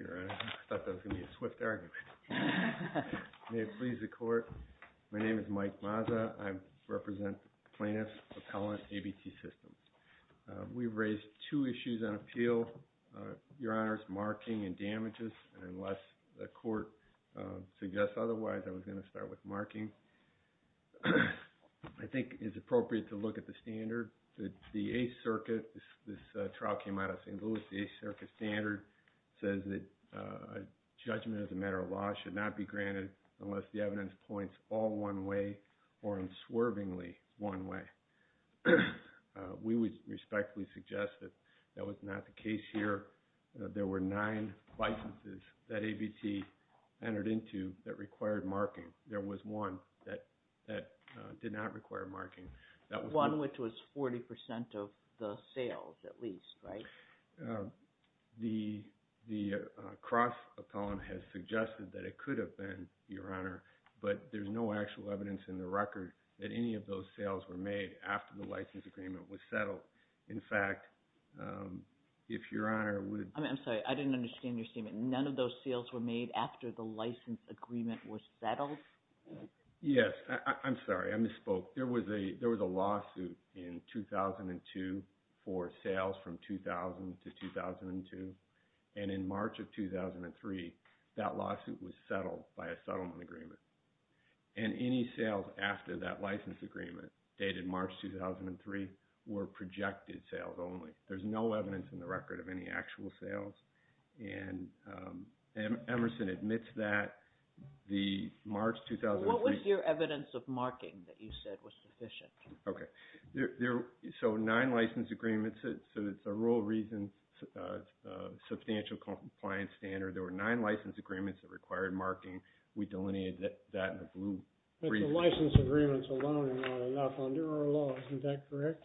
I thought that was going to be a swift argument. May it please the court, my name is Mike Mazza. I represent Plaintiffs Appellant ABT Systems. We've raised two issues on appeal, Your Honors, marking and damages, and unless the court suggests otherwise, I was going to start with marking. I think it's appropriate to look at the standard. The Eighth Circuit, this trial came out of St. Louis, the Eighth Circuit standard says that judgment as a matter of law should not be granted unless the evidence points all one way or unswervingly one way. We would respectfully suggest that that was not the case here. There were nine licenses that ABT entered into that required marking. There was one that did not require marking. One which was 40% of the sales, at least, right? The cross appellant has suggested that it could have been, Your Honor, but there's no actual evidence in the record that any of those sales were made after the license agreement was settled. In fact, if Your Honor would… I'm sorry, I didn't understand your statement. None of those sales were made after the license agreement was settled? Yes, I'm sorry, I misspoke. There was a lawsuit in 2002 for sales from 2000 to 2002, and in March of 2003, that lawsuit was settled by a settlement agreement. And any sales after that license agreement, dated March 2003, were projected sales only. There's no evidence in the record of any actual sales, and Emerson admits that the March 2003… What was your evidence of marking that you said was sufficient? Okay. So nine license agreements, so it's a rule of reasons, substantial compliance standard. There were nine license agreements that required marking. We delineated that in the blue. But the license agreements alone are not enough under our law. Isn't that correct?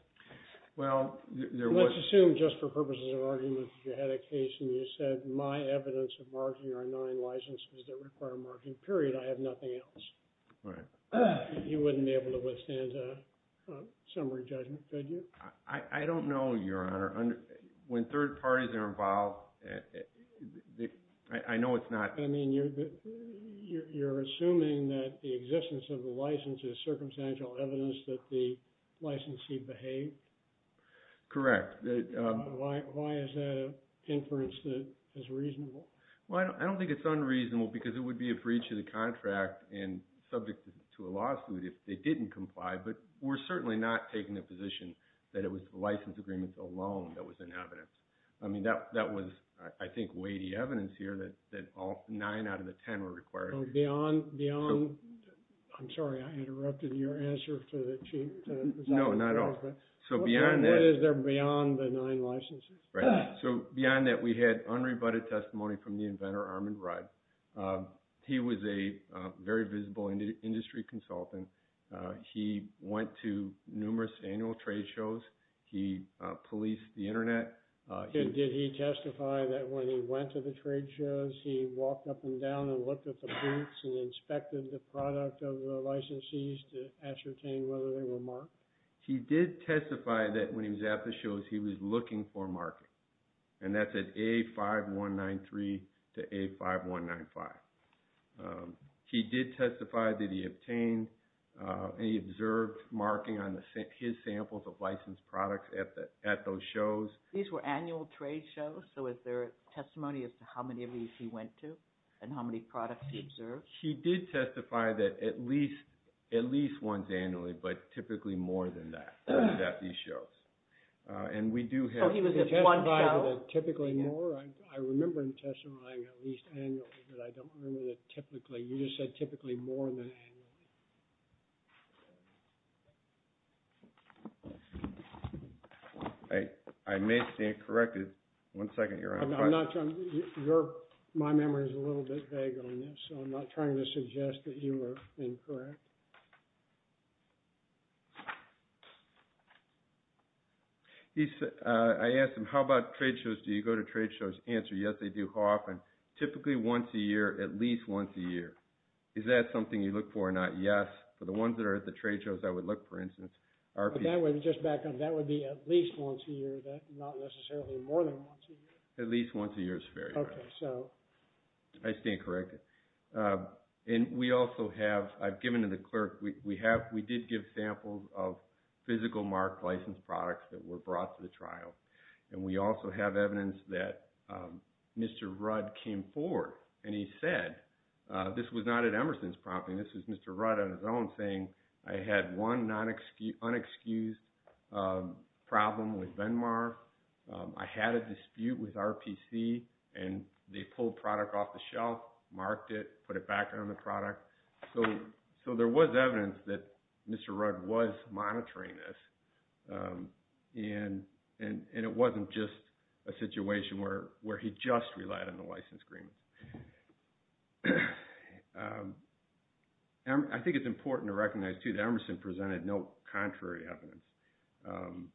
Well, there was… Let's assume just for purposes of argument that you had a case and you said my evidence of marking are nine licenses that require marking, period. I have nothing else. All right. You wouldn't be able to withstand a summary judgment, could you? I don't know, Your Honor. When third parties are involved, I know it's not… I mean, you're assuming that the existence of the license is circumstantial evidence that the licensee behaved? Correct. Why is that an inference that is reasonable? Well, I don't think it's unreasonable because it would be a breach of the contract and subject to a lawsuit if they didn't comply. But we're certainly not taking a position that it was the license agreements alone that was an evidence. I mean, that was, I think, weighty evidence here that all nine out of the ten were required. Beyond… I'm sorry, I interrupted your answer to the Chief. No, not at all. So beyond that… What is there beyond the nine licenses? Right. So beyond that, we had unrebutted testimony from the inventor, Armand Rudd. He was a very visible industry consultant. He went to numerous annual trade shows. He policed the internet. Did he testify that when he went to the trade shows, he walked up and down and looked at the boots and inspected the product of the licensees to ascertain whether they were marked? He did testify that when he was at the shows, he was looking for marking. And that's at A5193 to A5195. He did testify that he obtained and he observed marking on his samples of licensed products at those shows. These were annual trade shows, so is there testimony as to how many of these he went to and how many products he observed? He did testify that at least once annually, but typically more than that at these shows. And we do have… So he was at one show? I remember him testifying at least annually, but I don't remember that typically. You just said typically more than annually. I may stand corrected. One second. My memory is a little bit vague on this, so I'm not trying to suggest that you are incorrect. I asked him, how about trade shows? Do you go to trade shows? Answer, yes, I do. How often? Typically once a year, at least once a year. Is that something you look for or not? Yes. For the ones that are at the trade shows, I would look, for instance… That would be at least once a year, not necessarily more than once a year. At least once a year is fair. I stand corrected. And we also have, I've given to the clerk, we did give samples of physical marked licensed products that were brought to the trial. And we also have evidence that Mr. Rudd came forward and he said, this was not at Emerson's property. This was Mr. Rudd on his own saying, I had one unexcused problem with Venmar. I had a dispute with RPC and they pulled product off the shelf, marked it, put it back on the product. So there was evidence that Mr. Rudd was monitoring this. And it wasn't just a situation where he just relied on the license agreement. I think it's important to recognize too that Emerson presented no contrary evidence.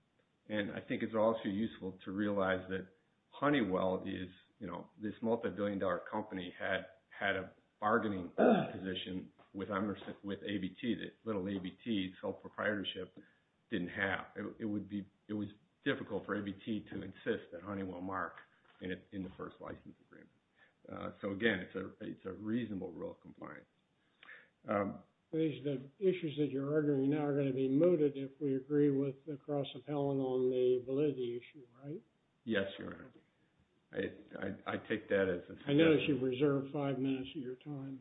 And I think it's also useful to realize that Honeywell, this multi-billion dollar company, had a bargaining position with Emerson, with ABT. Little ABT, sole proprietorship, didn't have… It was difficult for ABT to insist that Honeywell mark in the first license agreement. So again, it's a reasonable rule of compliance. The issues that you're arguing now are going to be mooted if we agree with the cross-appellant on the validity issue, right? Yes, Your Honor. I take that as… I notice you've reserved five minutes of your time.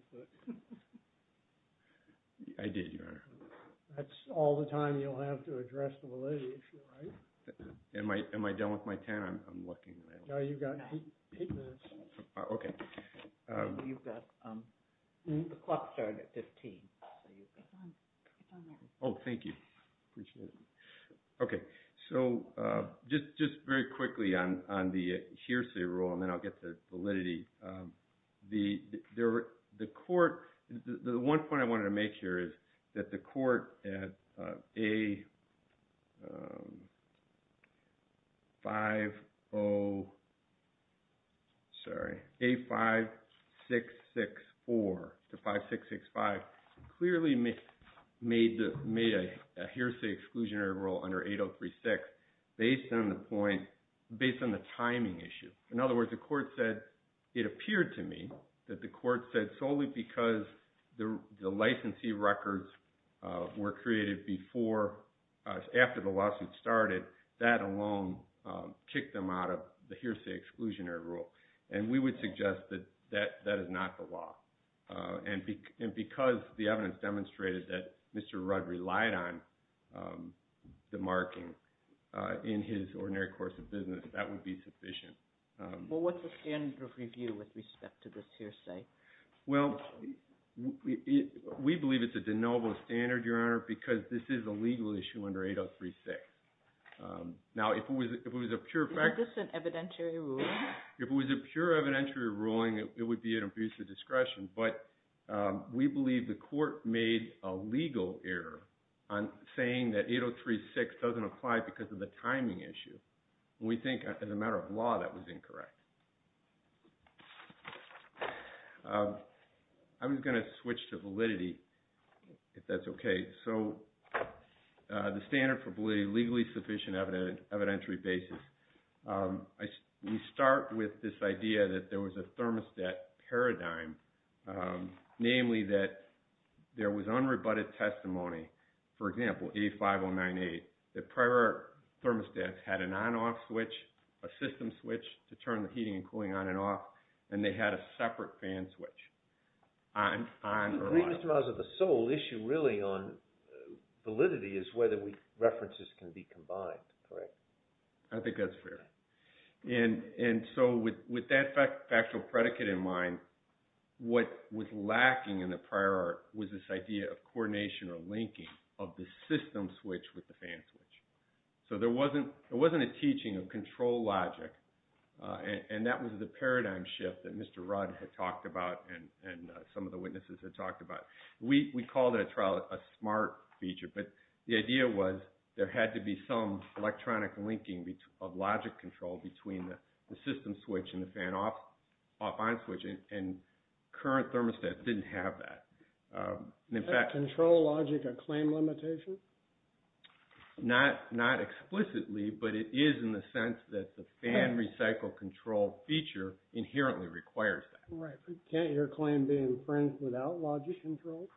I did, Your Honor. That's all the time you'll have to address the validity issue, right? Am I done with my ten? I'm looking. No, you've got eight minutes. Okay. You've got… The clock started at 15. Oh, thank you. Appreciate it. Okay, so just very quickly on the hearsay rule, and then I'll get to validity. The court… The one point I wanted to make here is that the court at A-5-6-6-4 to 5-6-6-5, clearly made a hearsay exclusionary rule under 8-0-3-6 based on the timing issue. In other words, the court said, it appeared to me that the court said solely because the licensee records were created after the lawsuit started, that alone kicked them out of the hearsay exclusionary rule. And we would suggest that that is not the law. And because the evidence demonstrated that Mr. Rudd relied on the marking in his ordinary course of business, that would be sufficient. Well, what's the standard of review with respect to this hearsay? Well, we believe it's a de novo standard, Your Honor, because this is a legal issue under 8-0-3-6. Now, if it was a pure fact… Is this an evidentiary ruling? If it was a pure evidentiary ruling, it would be an abuse of discretion. But we believe the court made a legal error on saying that 8-0-3-6 doesn't apply because of the timing issue. We think, as a matter of law, that was incorrect. I'm going to switch to validity, if that's okay. So, the standard for validity, legally sufficient evidentiary basis. We start with this idea that there was a thermostat paradigm, namely that there was unrebutted testimony, for example, 8-5-0-9-8, that prior thermostats had an on-off switch, a system switch to turn the heating and cooling on and off, and they had a separate fan switch on or off. Mr. Miles, the sole issue really on validity is whether references can be combined, correct? I think that's fair. And so, with that factual predicate in mind, what was lacking in the prior art was this idea of coordination or linking of the system switch with the fan switch. So, there wasn't a teaching of control logic, and that was the paradigm shift that Mr. Rudd had talked about and some of the witnesses had talked about. We called that trial a smart feature, but the idea was there had to be some electronic linking of logic control between the system switch and the fan off-on switch, and current thermostats didn't have that. Is that control logic a claim limitation? Not explicitly, but it is in the sense that the fan recycle control feature inherently requires that. Can't your claim be infringed without logic control?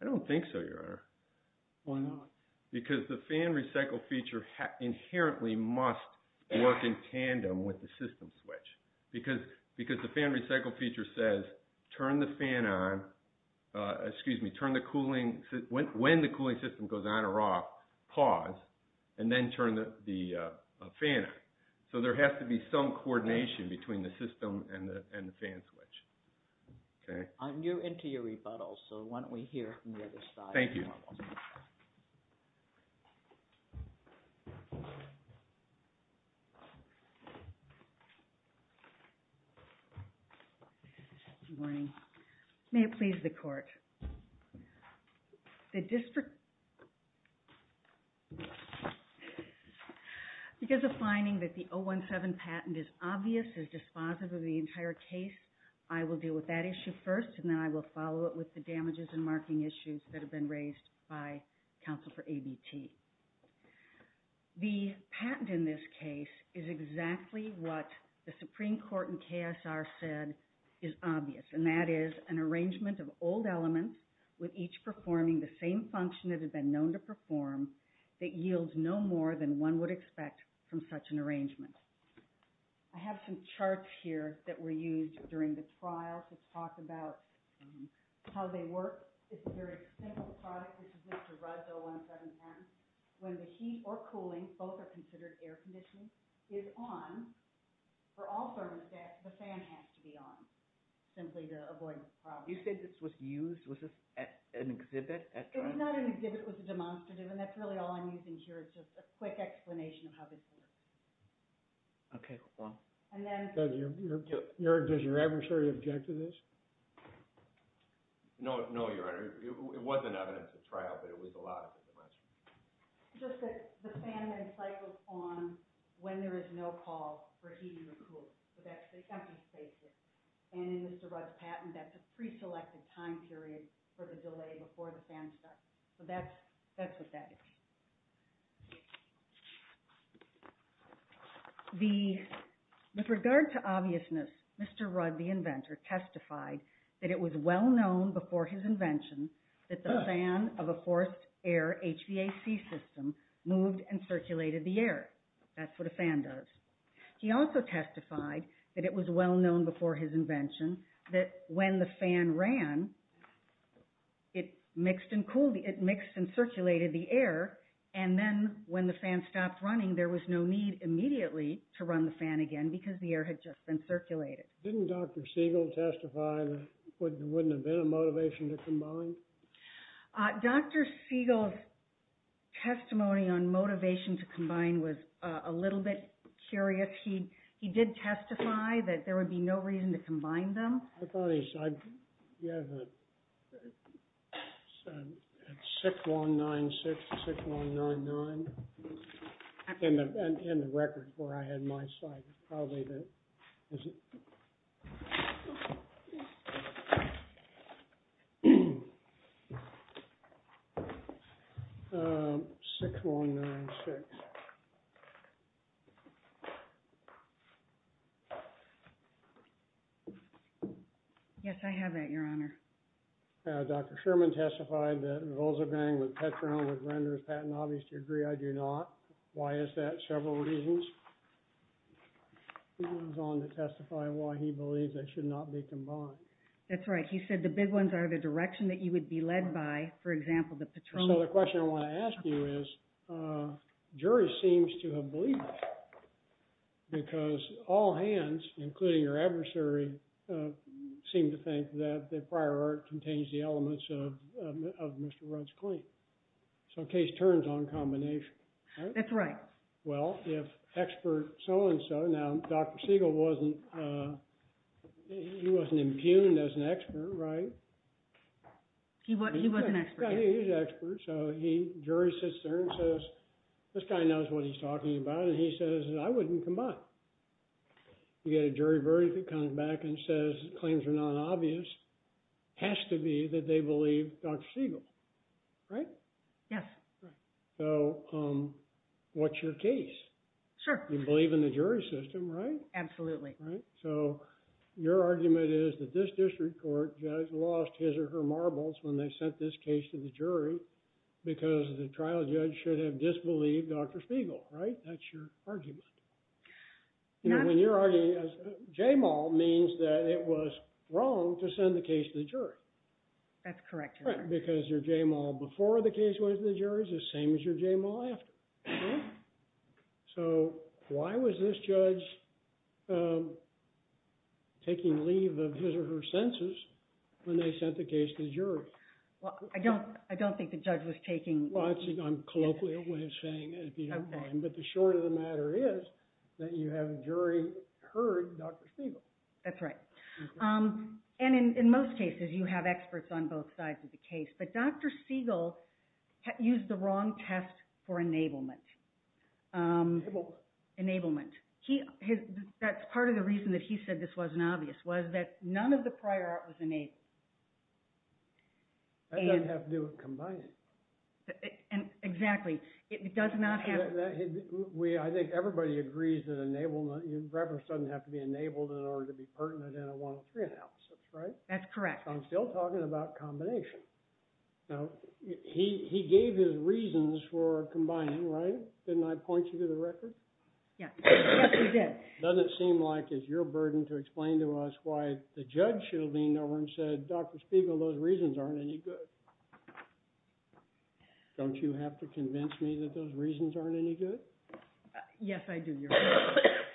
I don't think so, Your Honor. Why not? Because the fan recycle feature inherently must work in tandem with the system switch. Because the fan recycle feature says, when the cooling system goes on or off, pause, and then turn the fan on. So, there has to be some coordination between the system and the fan switch. I'm new into your rebuttals, so why don't we hear from the other side. Thank you. Good morning. May it please the court. The district... Because of finding that the 017 patent is obvious, is dispositive of the entire case, I will deal with that issue first, and then I will follow it with the damages and marking issues that have been raised by the court. The patent in this case is exactly what the Supreme Court and KSR said is obvious, and that is an arrangement of old elements with each performing the same function that has been known to perform that yields no more than one would expect from such an arrangement. I have some charts here that were used during the trial to talk about how they work. It's a very simple product. This is Mr. Rudd's 017 patent. When the heat or cooling, both are considered air conditioning, is on, for all thermostats, the fan has to be on simply to avoid this problem. You said this was used, was this an exhibit at trial? It was not an exhibit. It was a demonstrative, and that's really all I'm using here is just a quick explanation of how this works. Okay. Does your adversary object to this? No, Your Honor. It wasn't evidence at trial, but it was allowed at the demonstration. Just that the fan then cycles on when there is no call for heating or cooling. So that's the empty spaces. And in Mr. Rudd's patent, that's a preselected time period for the delay before the fan starts. So that's what that is. With regard to obviousness, Mr. Rudd, the inventor, testified that it was well-known before his invention that the fan of a forced air HVAC system moved and circulated the air. That's what a fan does. He also testified that it was well-known before his invention that when the fan ran, it mixed and circulated the air. And then when the fan stopped running, there was no need immediately to run the fan again because the air had just been circulated. Didn't Dr. Siegel testify that there wouldn't have been a motivation to combine? Dr. Siegel's testimony on motivation to combine was a little bit curious. He did testify that there would be no reason to combine them. I thought he said 6196 to 6199. In the record where I had my slide, it's probably that. 6196. Yes, I have that, Your Honor. Dr. Sherman testified that a rosagang with Petronil would render his patent obvious to agree. I do not. Why is that? Several reasons. He goes on to testify why he believes they should not be combined. That's right. He said the big ones are the direction that you would be led by, for example, the Petronil. So the question I want to ask you is, the jury seems to have believed that. Because all hands, including your adversary, seem to think that the prior art contains the elements of Mr. Rudd's claim. So the case turns on combination. That's right. Well, if expert so-and-so, now Dr. Siegel wasn't, he wasn't impugned as an expert, right? He wasn't an expert. He was an expert. So he, jury sits there and says, this guy knows what he's talking about. And he says, I wouldn't combine. You get a jury verdict that comes back and says claims are not obvious. Has to be that they believe Dr. Siegel. Right? Yes. So what's your case? Sure. You believe in the jury system, right? Absolutely. Right? So your argument is that this district court judge lost his or her marbles when they sent this case to the jury. Because the trial judge should have disbelieved Dr. Siegel, right? That's your argument. When you're arguing, J-Mal means that it was wrong to send the case to the jury. That's correct. Because your J-Mal before the case went to the jury is the same as your J-Mal after. So why was this judge taking leave of his or her senses when they sent the case to the jury? Well, I don't think the judge was taking leave. Well, I'm colloquially always saying it, if you don't mind. But the short of the matter is that you have jury heard Dr. Siegel. That's right. And in most cases, you have experts on both sides of the case. But Dr. Siegel used the wrong test for enablement. Enablement? Enablement. That's part of the reason that he said this wasn't obvious, was that none of the prior art was enabled. That doesn't have to do with combining. Exactly. I think everybody agrees that reference doesn't have to be enabled in order to be pertinent in a 103 analysis, right? That's correct. I'm still talking about combination. Now, he gave his reasons for combining, right? Didn't I point you to the record? Yes, you did. It doesn't seem like it's your burden to explain to us why the judge should have leaned over and said, Dr. Siegel, those reasons aren't any good. Don't you have to convince me that those reasons aren't any good? Yes, I do.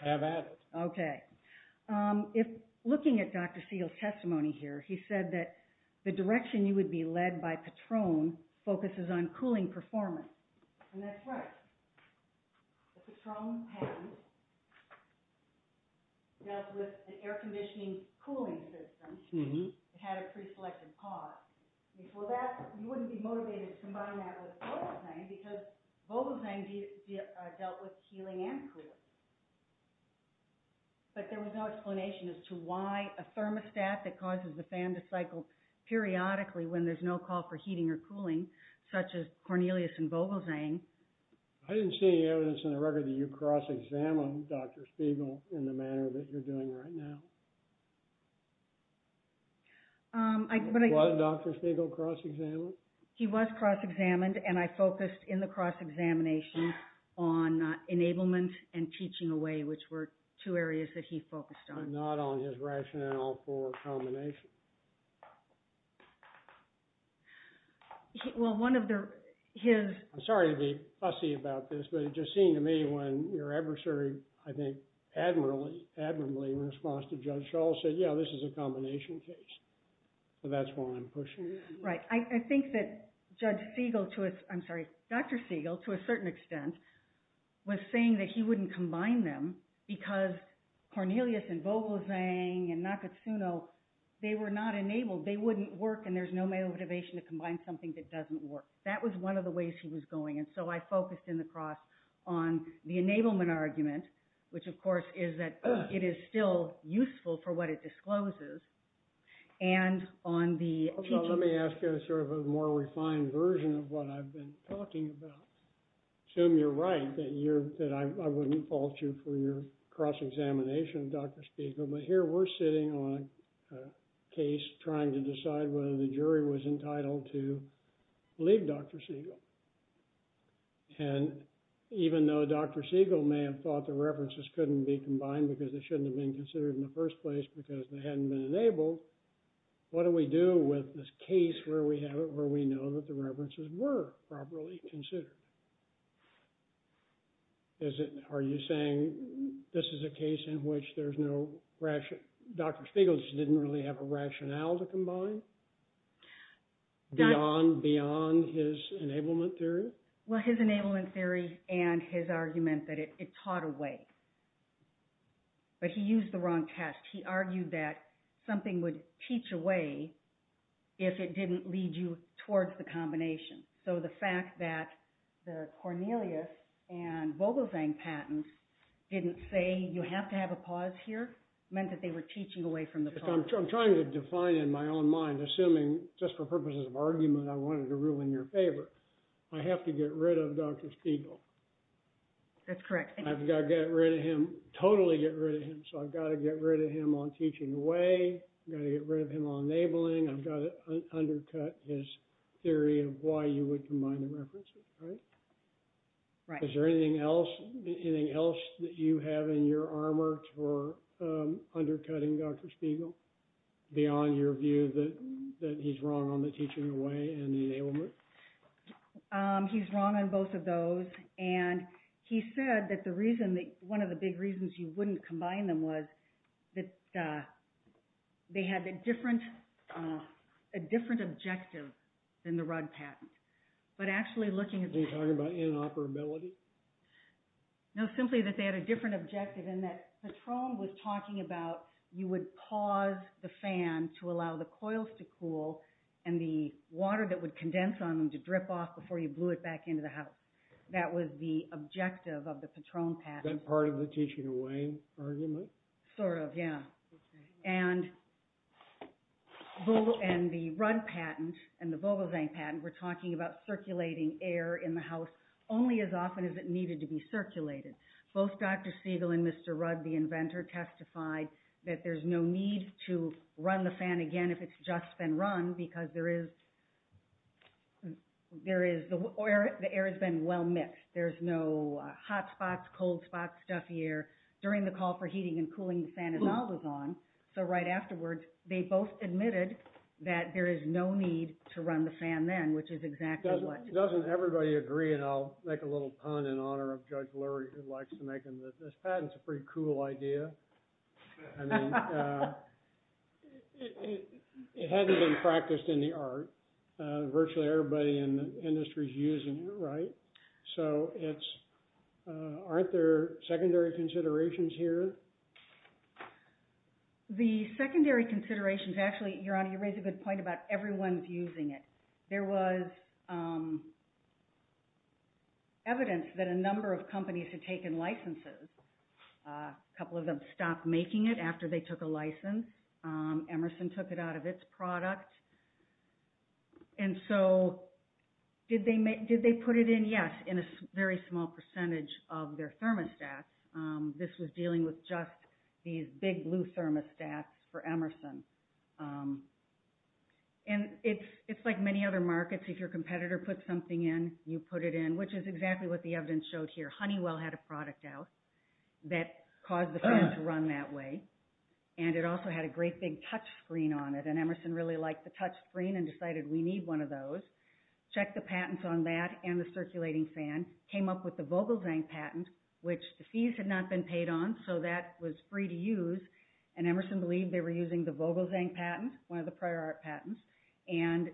Have at it. Okay. Looking at Dr. Siegel's testimony here, he said that the direction you would be led by Patron focuses on cooling performance. And that's right. The Patron patent dealt with an air conditioning cooling system. It had a pre-selected part. You wouldn't be motivated to combine that with Vogelsang because Vogelsang dealt with healing and cooling. But there was no explanation as to why a thermostat that causes the fan to cycle periodically when there's no call for heating or cooling, such as Cornelius and Vogelsang. I didn't see any evidence in the record that you cross-examined Dr. Siegel in the manner that you're doing right now. Was Dr. Siegel cross-examined? He was cross-examined, and I focused in the cross-examination on enablement and teaching away, which were two areas that he focused on. But not on his rationale for combination. I'm sorry to be fussy about this, but it just seemed to me when your adversary, I think, admirably in response to Judge Schall, said, yeah, this is a combination case. So that's why I'm pushing it. Right. I think that Dr. Siegel, to a certain extent, was saying that he wouldn't combine them because Cornelius and Vogelsang and Nakatsuno, they were not enabled. They wouldn't work, and there's no motivation to combine something that doesn't work. That was one of the ways he was going. And so I focused in the cross on the enablement argument, which, of course, is that it is still useful for what it discloses. Let me ask you sort of a more refined version of what I've been talking about. I assume you're right that I wouldn't fault you for your cross-examination of Dr. Siegel, but here we're sitting on a case trying to decide whether the jury was entitled to leave Dr. Siegel. And even though Dr. Siegel may have thought the references couldn't be combined because they shouldn't have been considered in the first place because they hadn't been enabled, what do we do with this case where we know that the references were properly considered? Are you saying this is a case in which there's no rationale? Dr. Siegel didn't really have a rationale to combine beyond his enablement theory? Well, his enablement theory and his argument that it taught a way, but he used the wrong test. He argued that something would teach a way if it didn't lead you towards the combination. So the fact that the Cornelius and Vogelsang patents didn't say you have to have a pause here meant that they were teaching away from the problem. I'm trying to define in my own mind, assuming just for purposes of argument I wanted to rule in your favor, I have to get rid of Dr. Siegel. That's correct. I've got to get rid of him, totally get rid of him. So I've got to get rid of him on teaching away. I've got to get rid of him on enabling. I've got to undercut his theory of why you would combine the references, right? Right. Is there anything else that you have in your armor for undercutting Dr. Siegel beyond your view that he's wrong on the teaching away and the enablement? He's wrong on both of those. He said that one of the big reasons you wouldn't combine them was that they had a different objective than the Rudd patent. Are you talking about inoperability? No, simply that they had a different objective in that Patron was talking about you would pause the fan to allow the coils to cool and the water that would condense on them to drip off before you blew it back into the house. That was the objective of the Patron patent. That part of the teaching away argument? Sort of, yeah. And the Rudd patent and the Vogelsang patent were talking about circulating air in the house only as often as it needed to be circulated. Both Dr. Siegel and Mr. Rudd, the inventor, testified that there's no need to run the fan again if it's just been run because the air has been well mixed. There's no hot spots, cold spots, stuffy air. During the call for heating and cooling, the fan is always on. So right afterwards, they both admitted that there is no need to run the fan then, which is exactly what… Doesn't everybody agree, and I'll make a little pun in honor of Judge Lurie who likes to make them, that this patent's a pretty cool idea. I mean, it hadn't been practiced in the art. Virtually everybody in the industry is using it, right? So it's… Aren't there secondary considerations here? The secondary considerations… Actually, Your Honor, you raise a good point about everyone's using it. There was evidence that a number of companies had taken licenses. A couple of them stopped making it after they took a license. Emerson took it out of its product. And so did they put it in? Yes, in a very small percentage of their thermostats. This was dealing with just these big blue thermostats for Emerson. And it's like many other markets. If your competitor puts something in, you put it in, which is exactly what the evidence showed here. Honeywell had a product out that caused the fan to run that way. And it also had a great big touchscreen on it. And Emerson really liked the touchscreen and decided we need one of those. Checked the patents on that and the circulating fan. Came up with the Vogelzang patent, which the fees had not been paid on, so that was free to use. And Emerson believed they were using the Vogelzang patent, one of the prior art patents. And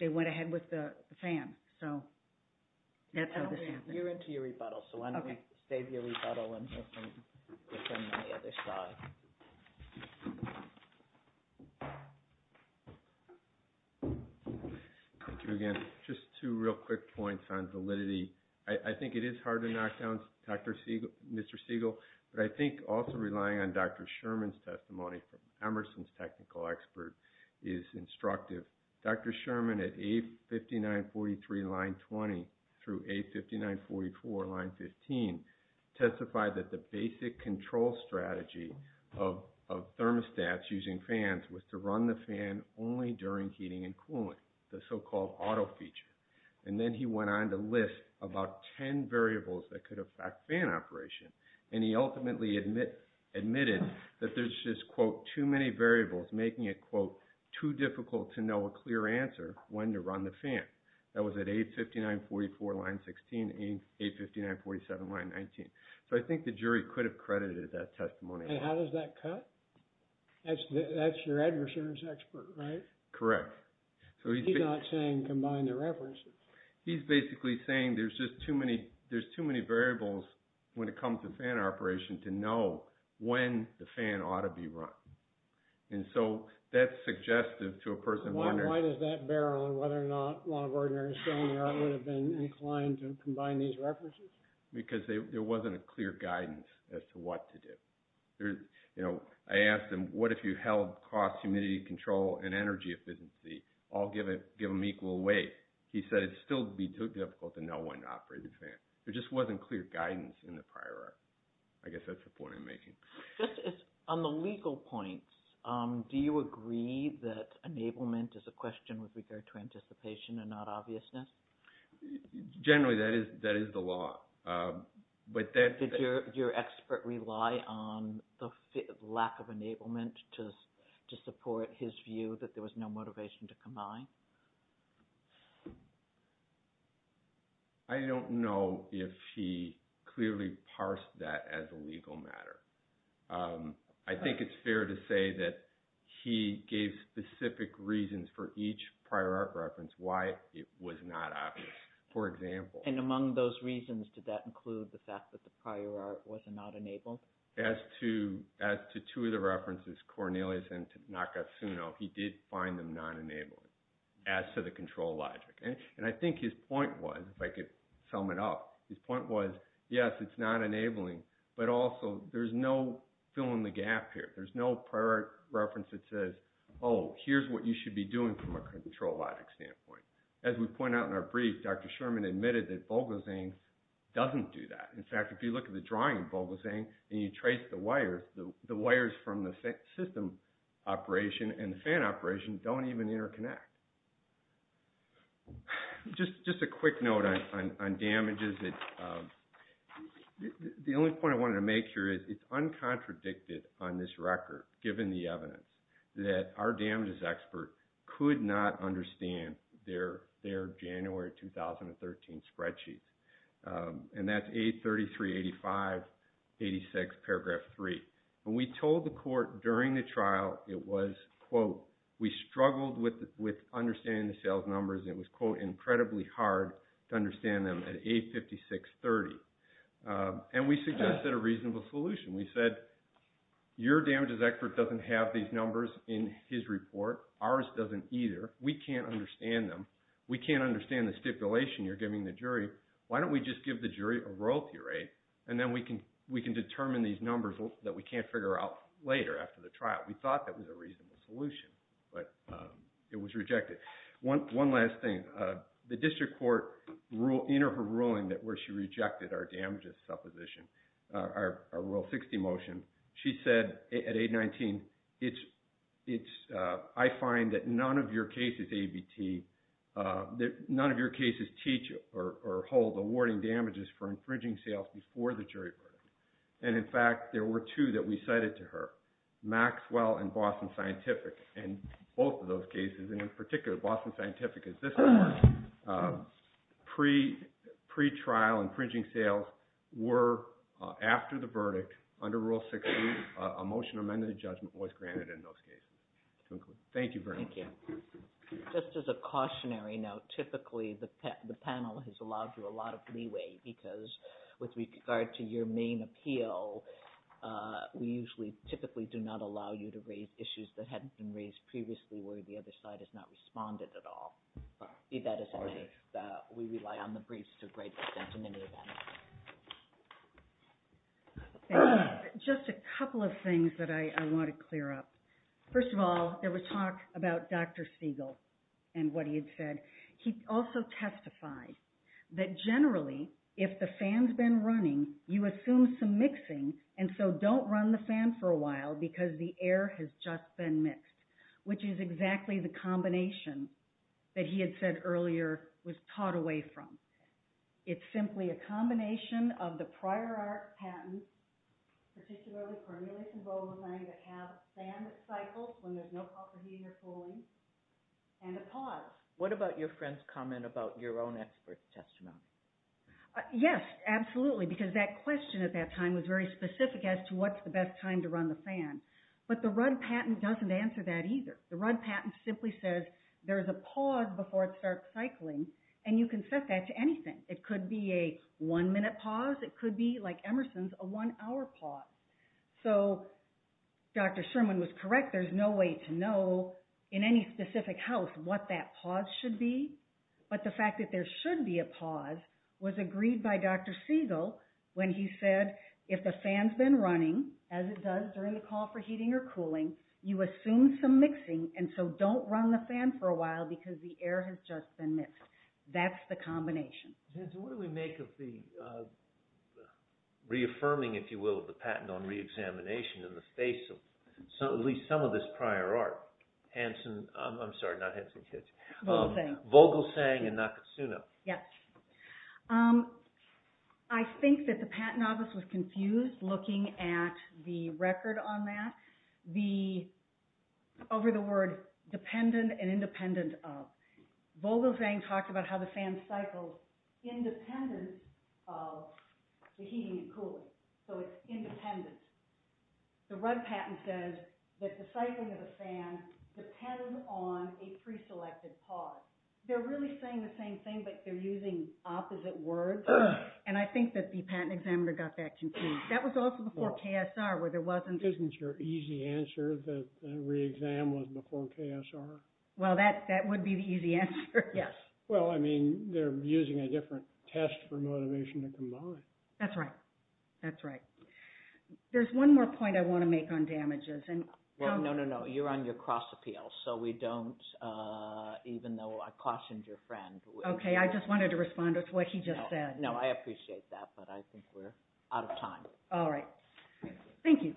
they went ahead with the fan. So that's how this happened. You're into your rebuttal, so why don't we save your rebuttal and move to the other side. Thank you again. Just two real quick points on validity. I think it is hard to knock down Mr. Siegel. But I think also relying on Dr. Sherman's testimony from Emerson's technical expert is instructive. Dr. Sherman at A5943 line 20 through A5944 line 15 testified that the basic control strategy of thermostats using fans was to run the fan only during heating and cooling, the so-called auto feature. And then he went on to list about ten variables that could affect fan operation. And he ultimately admitted that there's just, quote, too many variables making it, quote, too difficult to know a clear answer when to run the fan. That was at A5944 line 16, A5947 line 19. So I think the jury could have credited that testimony. And how does that cut? That's your adversaries expert, right? Correct. He's not saying combine the references. He's basically saying there's just too many variables when it comes to fan operation to know when the fan ought to be run. And so that's suggestive to a person wondering. Because there wasn't a clear guidance as to what to do. You know, I asked him, what if you held cost, humidity, control, and energy efficiency? I'll give them equal weight. He said it'd still be too difficult to know when to operate the fan. There just wasn't clear guidance in the prior article. I guess that's the point I'm making. On the legal points, do you agree that enablement is a question with regard to anticipation and not obviousness? Generally, that is the law. Did your expert rely on the lack of enablement to support his view that there was no motivation to combine? I don't know if he clearly parsed that as a legal matter. I think it's fair to say that he gave specific reasons for each prior art reference why it was not obvious. For example. And among those reasons, did that include the fact that the prior art was not enabled? As to two of the references, Cornelius and Nakasuno, he did find them non-enabling as to the control logic. And I think his point was, if I could sum it up, his point was, yes, it's not enabling. But also, there's no filling the gap here. There's no prior art reference that says, oh, here's what you should be doing from a control logic standpoint. As we point out in our brief, Dr. Sherman admitted that Vogelsang doesn't do that. In fact, if you look at the drawing of Vogelsang and you trace the wires, the wires from the system operation and the fan operation don't even interconnect. Just a quick note on damages. The only point I wanted to make here is it's uncontradicted on this record, given the evidence, that our damages expert could not understand their January 2013 spreadsheets. And that's A3385, 86, paragraph 3. When we told the court during the trial, it was, quote, we struggled with understanding the sales numbers. It was, quote, incredibly hard to understand them at A5630. And we suggested a reasonable solution. We said, your damages expert doesn't have these numbers in his report. Ours doesn't either. We can't understand them. Why don't we just give the jury a royalty rate, and then we can determine these numbers that we can't figure out later after the trial? We thought that was a reasonable solution, but it was rejected. One last thing. The district court, in her ruling where she rejected our damages supposition, our Rule 60 motion, she said at 819, I find that none of your cases teach or hold awarding damages for infringing sales before the jury verdict. And, in fact, there were two that we cited to her, Maxwell and Boston Scientific. And both of those cases, and in particular, Boston Scientific is this one, pre-trial infringing sales were, after the verdict, under Rule 60, a motion amended to judgment was granted in those cases. Thank you very much. Thank you. Just as a cautionary note, typically the panel has allowed you a lot of leeway because with regard to your main appeal, we usually typically do not allow you to raise issues that hadn't been raised previously where the other side has not responded at all. That is why we rely on the briefs to a great extent in any event. Just a couple of things that I want to clear up. First of all, there was talk about Dr. Siegel and what he had said. He also testified that generally, if the fan's been running, you assume some mixing, and so don't run the fan for a while because the air has just been mixed, which is exactly the combination that he had said earlier was taught away from. It's simply a combination of the prior art patent, particularly for a newly enrolled client that have a fan that cycles when there's no proper heat or cooling, and a pause. What about your friend's comment about your own expert's testimony? Yes, absolutely, because that question at that time was very specific as to what's the best time to run the fan. But the Rudd patent doesn't answer that either. The Rudd patent simply says there's a pause before it starts cycling, and you can set that to anything. It could be a one-minute pause. It could be, like Emerson's, a one-hour pause. So Dr. Sherman was correct. There's no way to know in any specific house what that pause should be, but the fact that there should be a pause was agreed by Dr. Siegel when he said if the fan's been running, as it does during the call for heating or cooling, you assume some mixing, and so don't run the fan for a while because the air has just been mixed. That's the combination. What do we make of the reaffirming, if you will, of the patent on reexamination in the face of at least some of this prior art? Hanson, I'm sorry, not Hanson Kitsch. Vogelsang. Vogelsang and Nakatsuno. Yes. I think that the patent office was confused looking at the record on that over the word dependent and independent of. Vogelsang talked about how the fan cycles independent of the heating and cooling, so it's independent. The Rudd patent says that the cycling of the fan depends on a preselected pause. They're really saying the same thing, but they're using opposite words, and I think that the patent examiner got that confused. That was also before KSR where there wasn't. Isn't your easy answer that the reexam was before KSR? Well, that would be the easy answer, yes. Well, I mean, they're using a different test for motivation to combine. That's right. That's right. There's one more point I want to make on damages. No, no, no. You're on your cross appeal, so we don't, even though I cautioned your friend. Okay. I just wanted to respond to what he just said. No, I appreciate that, but I think we're out of time. All right. Thank you.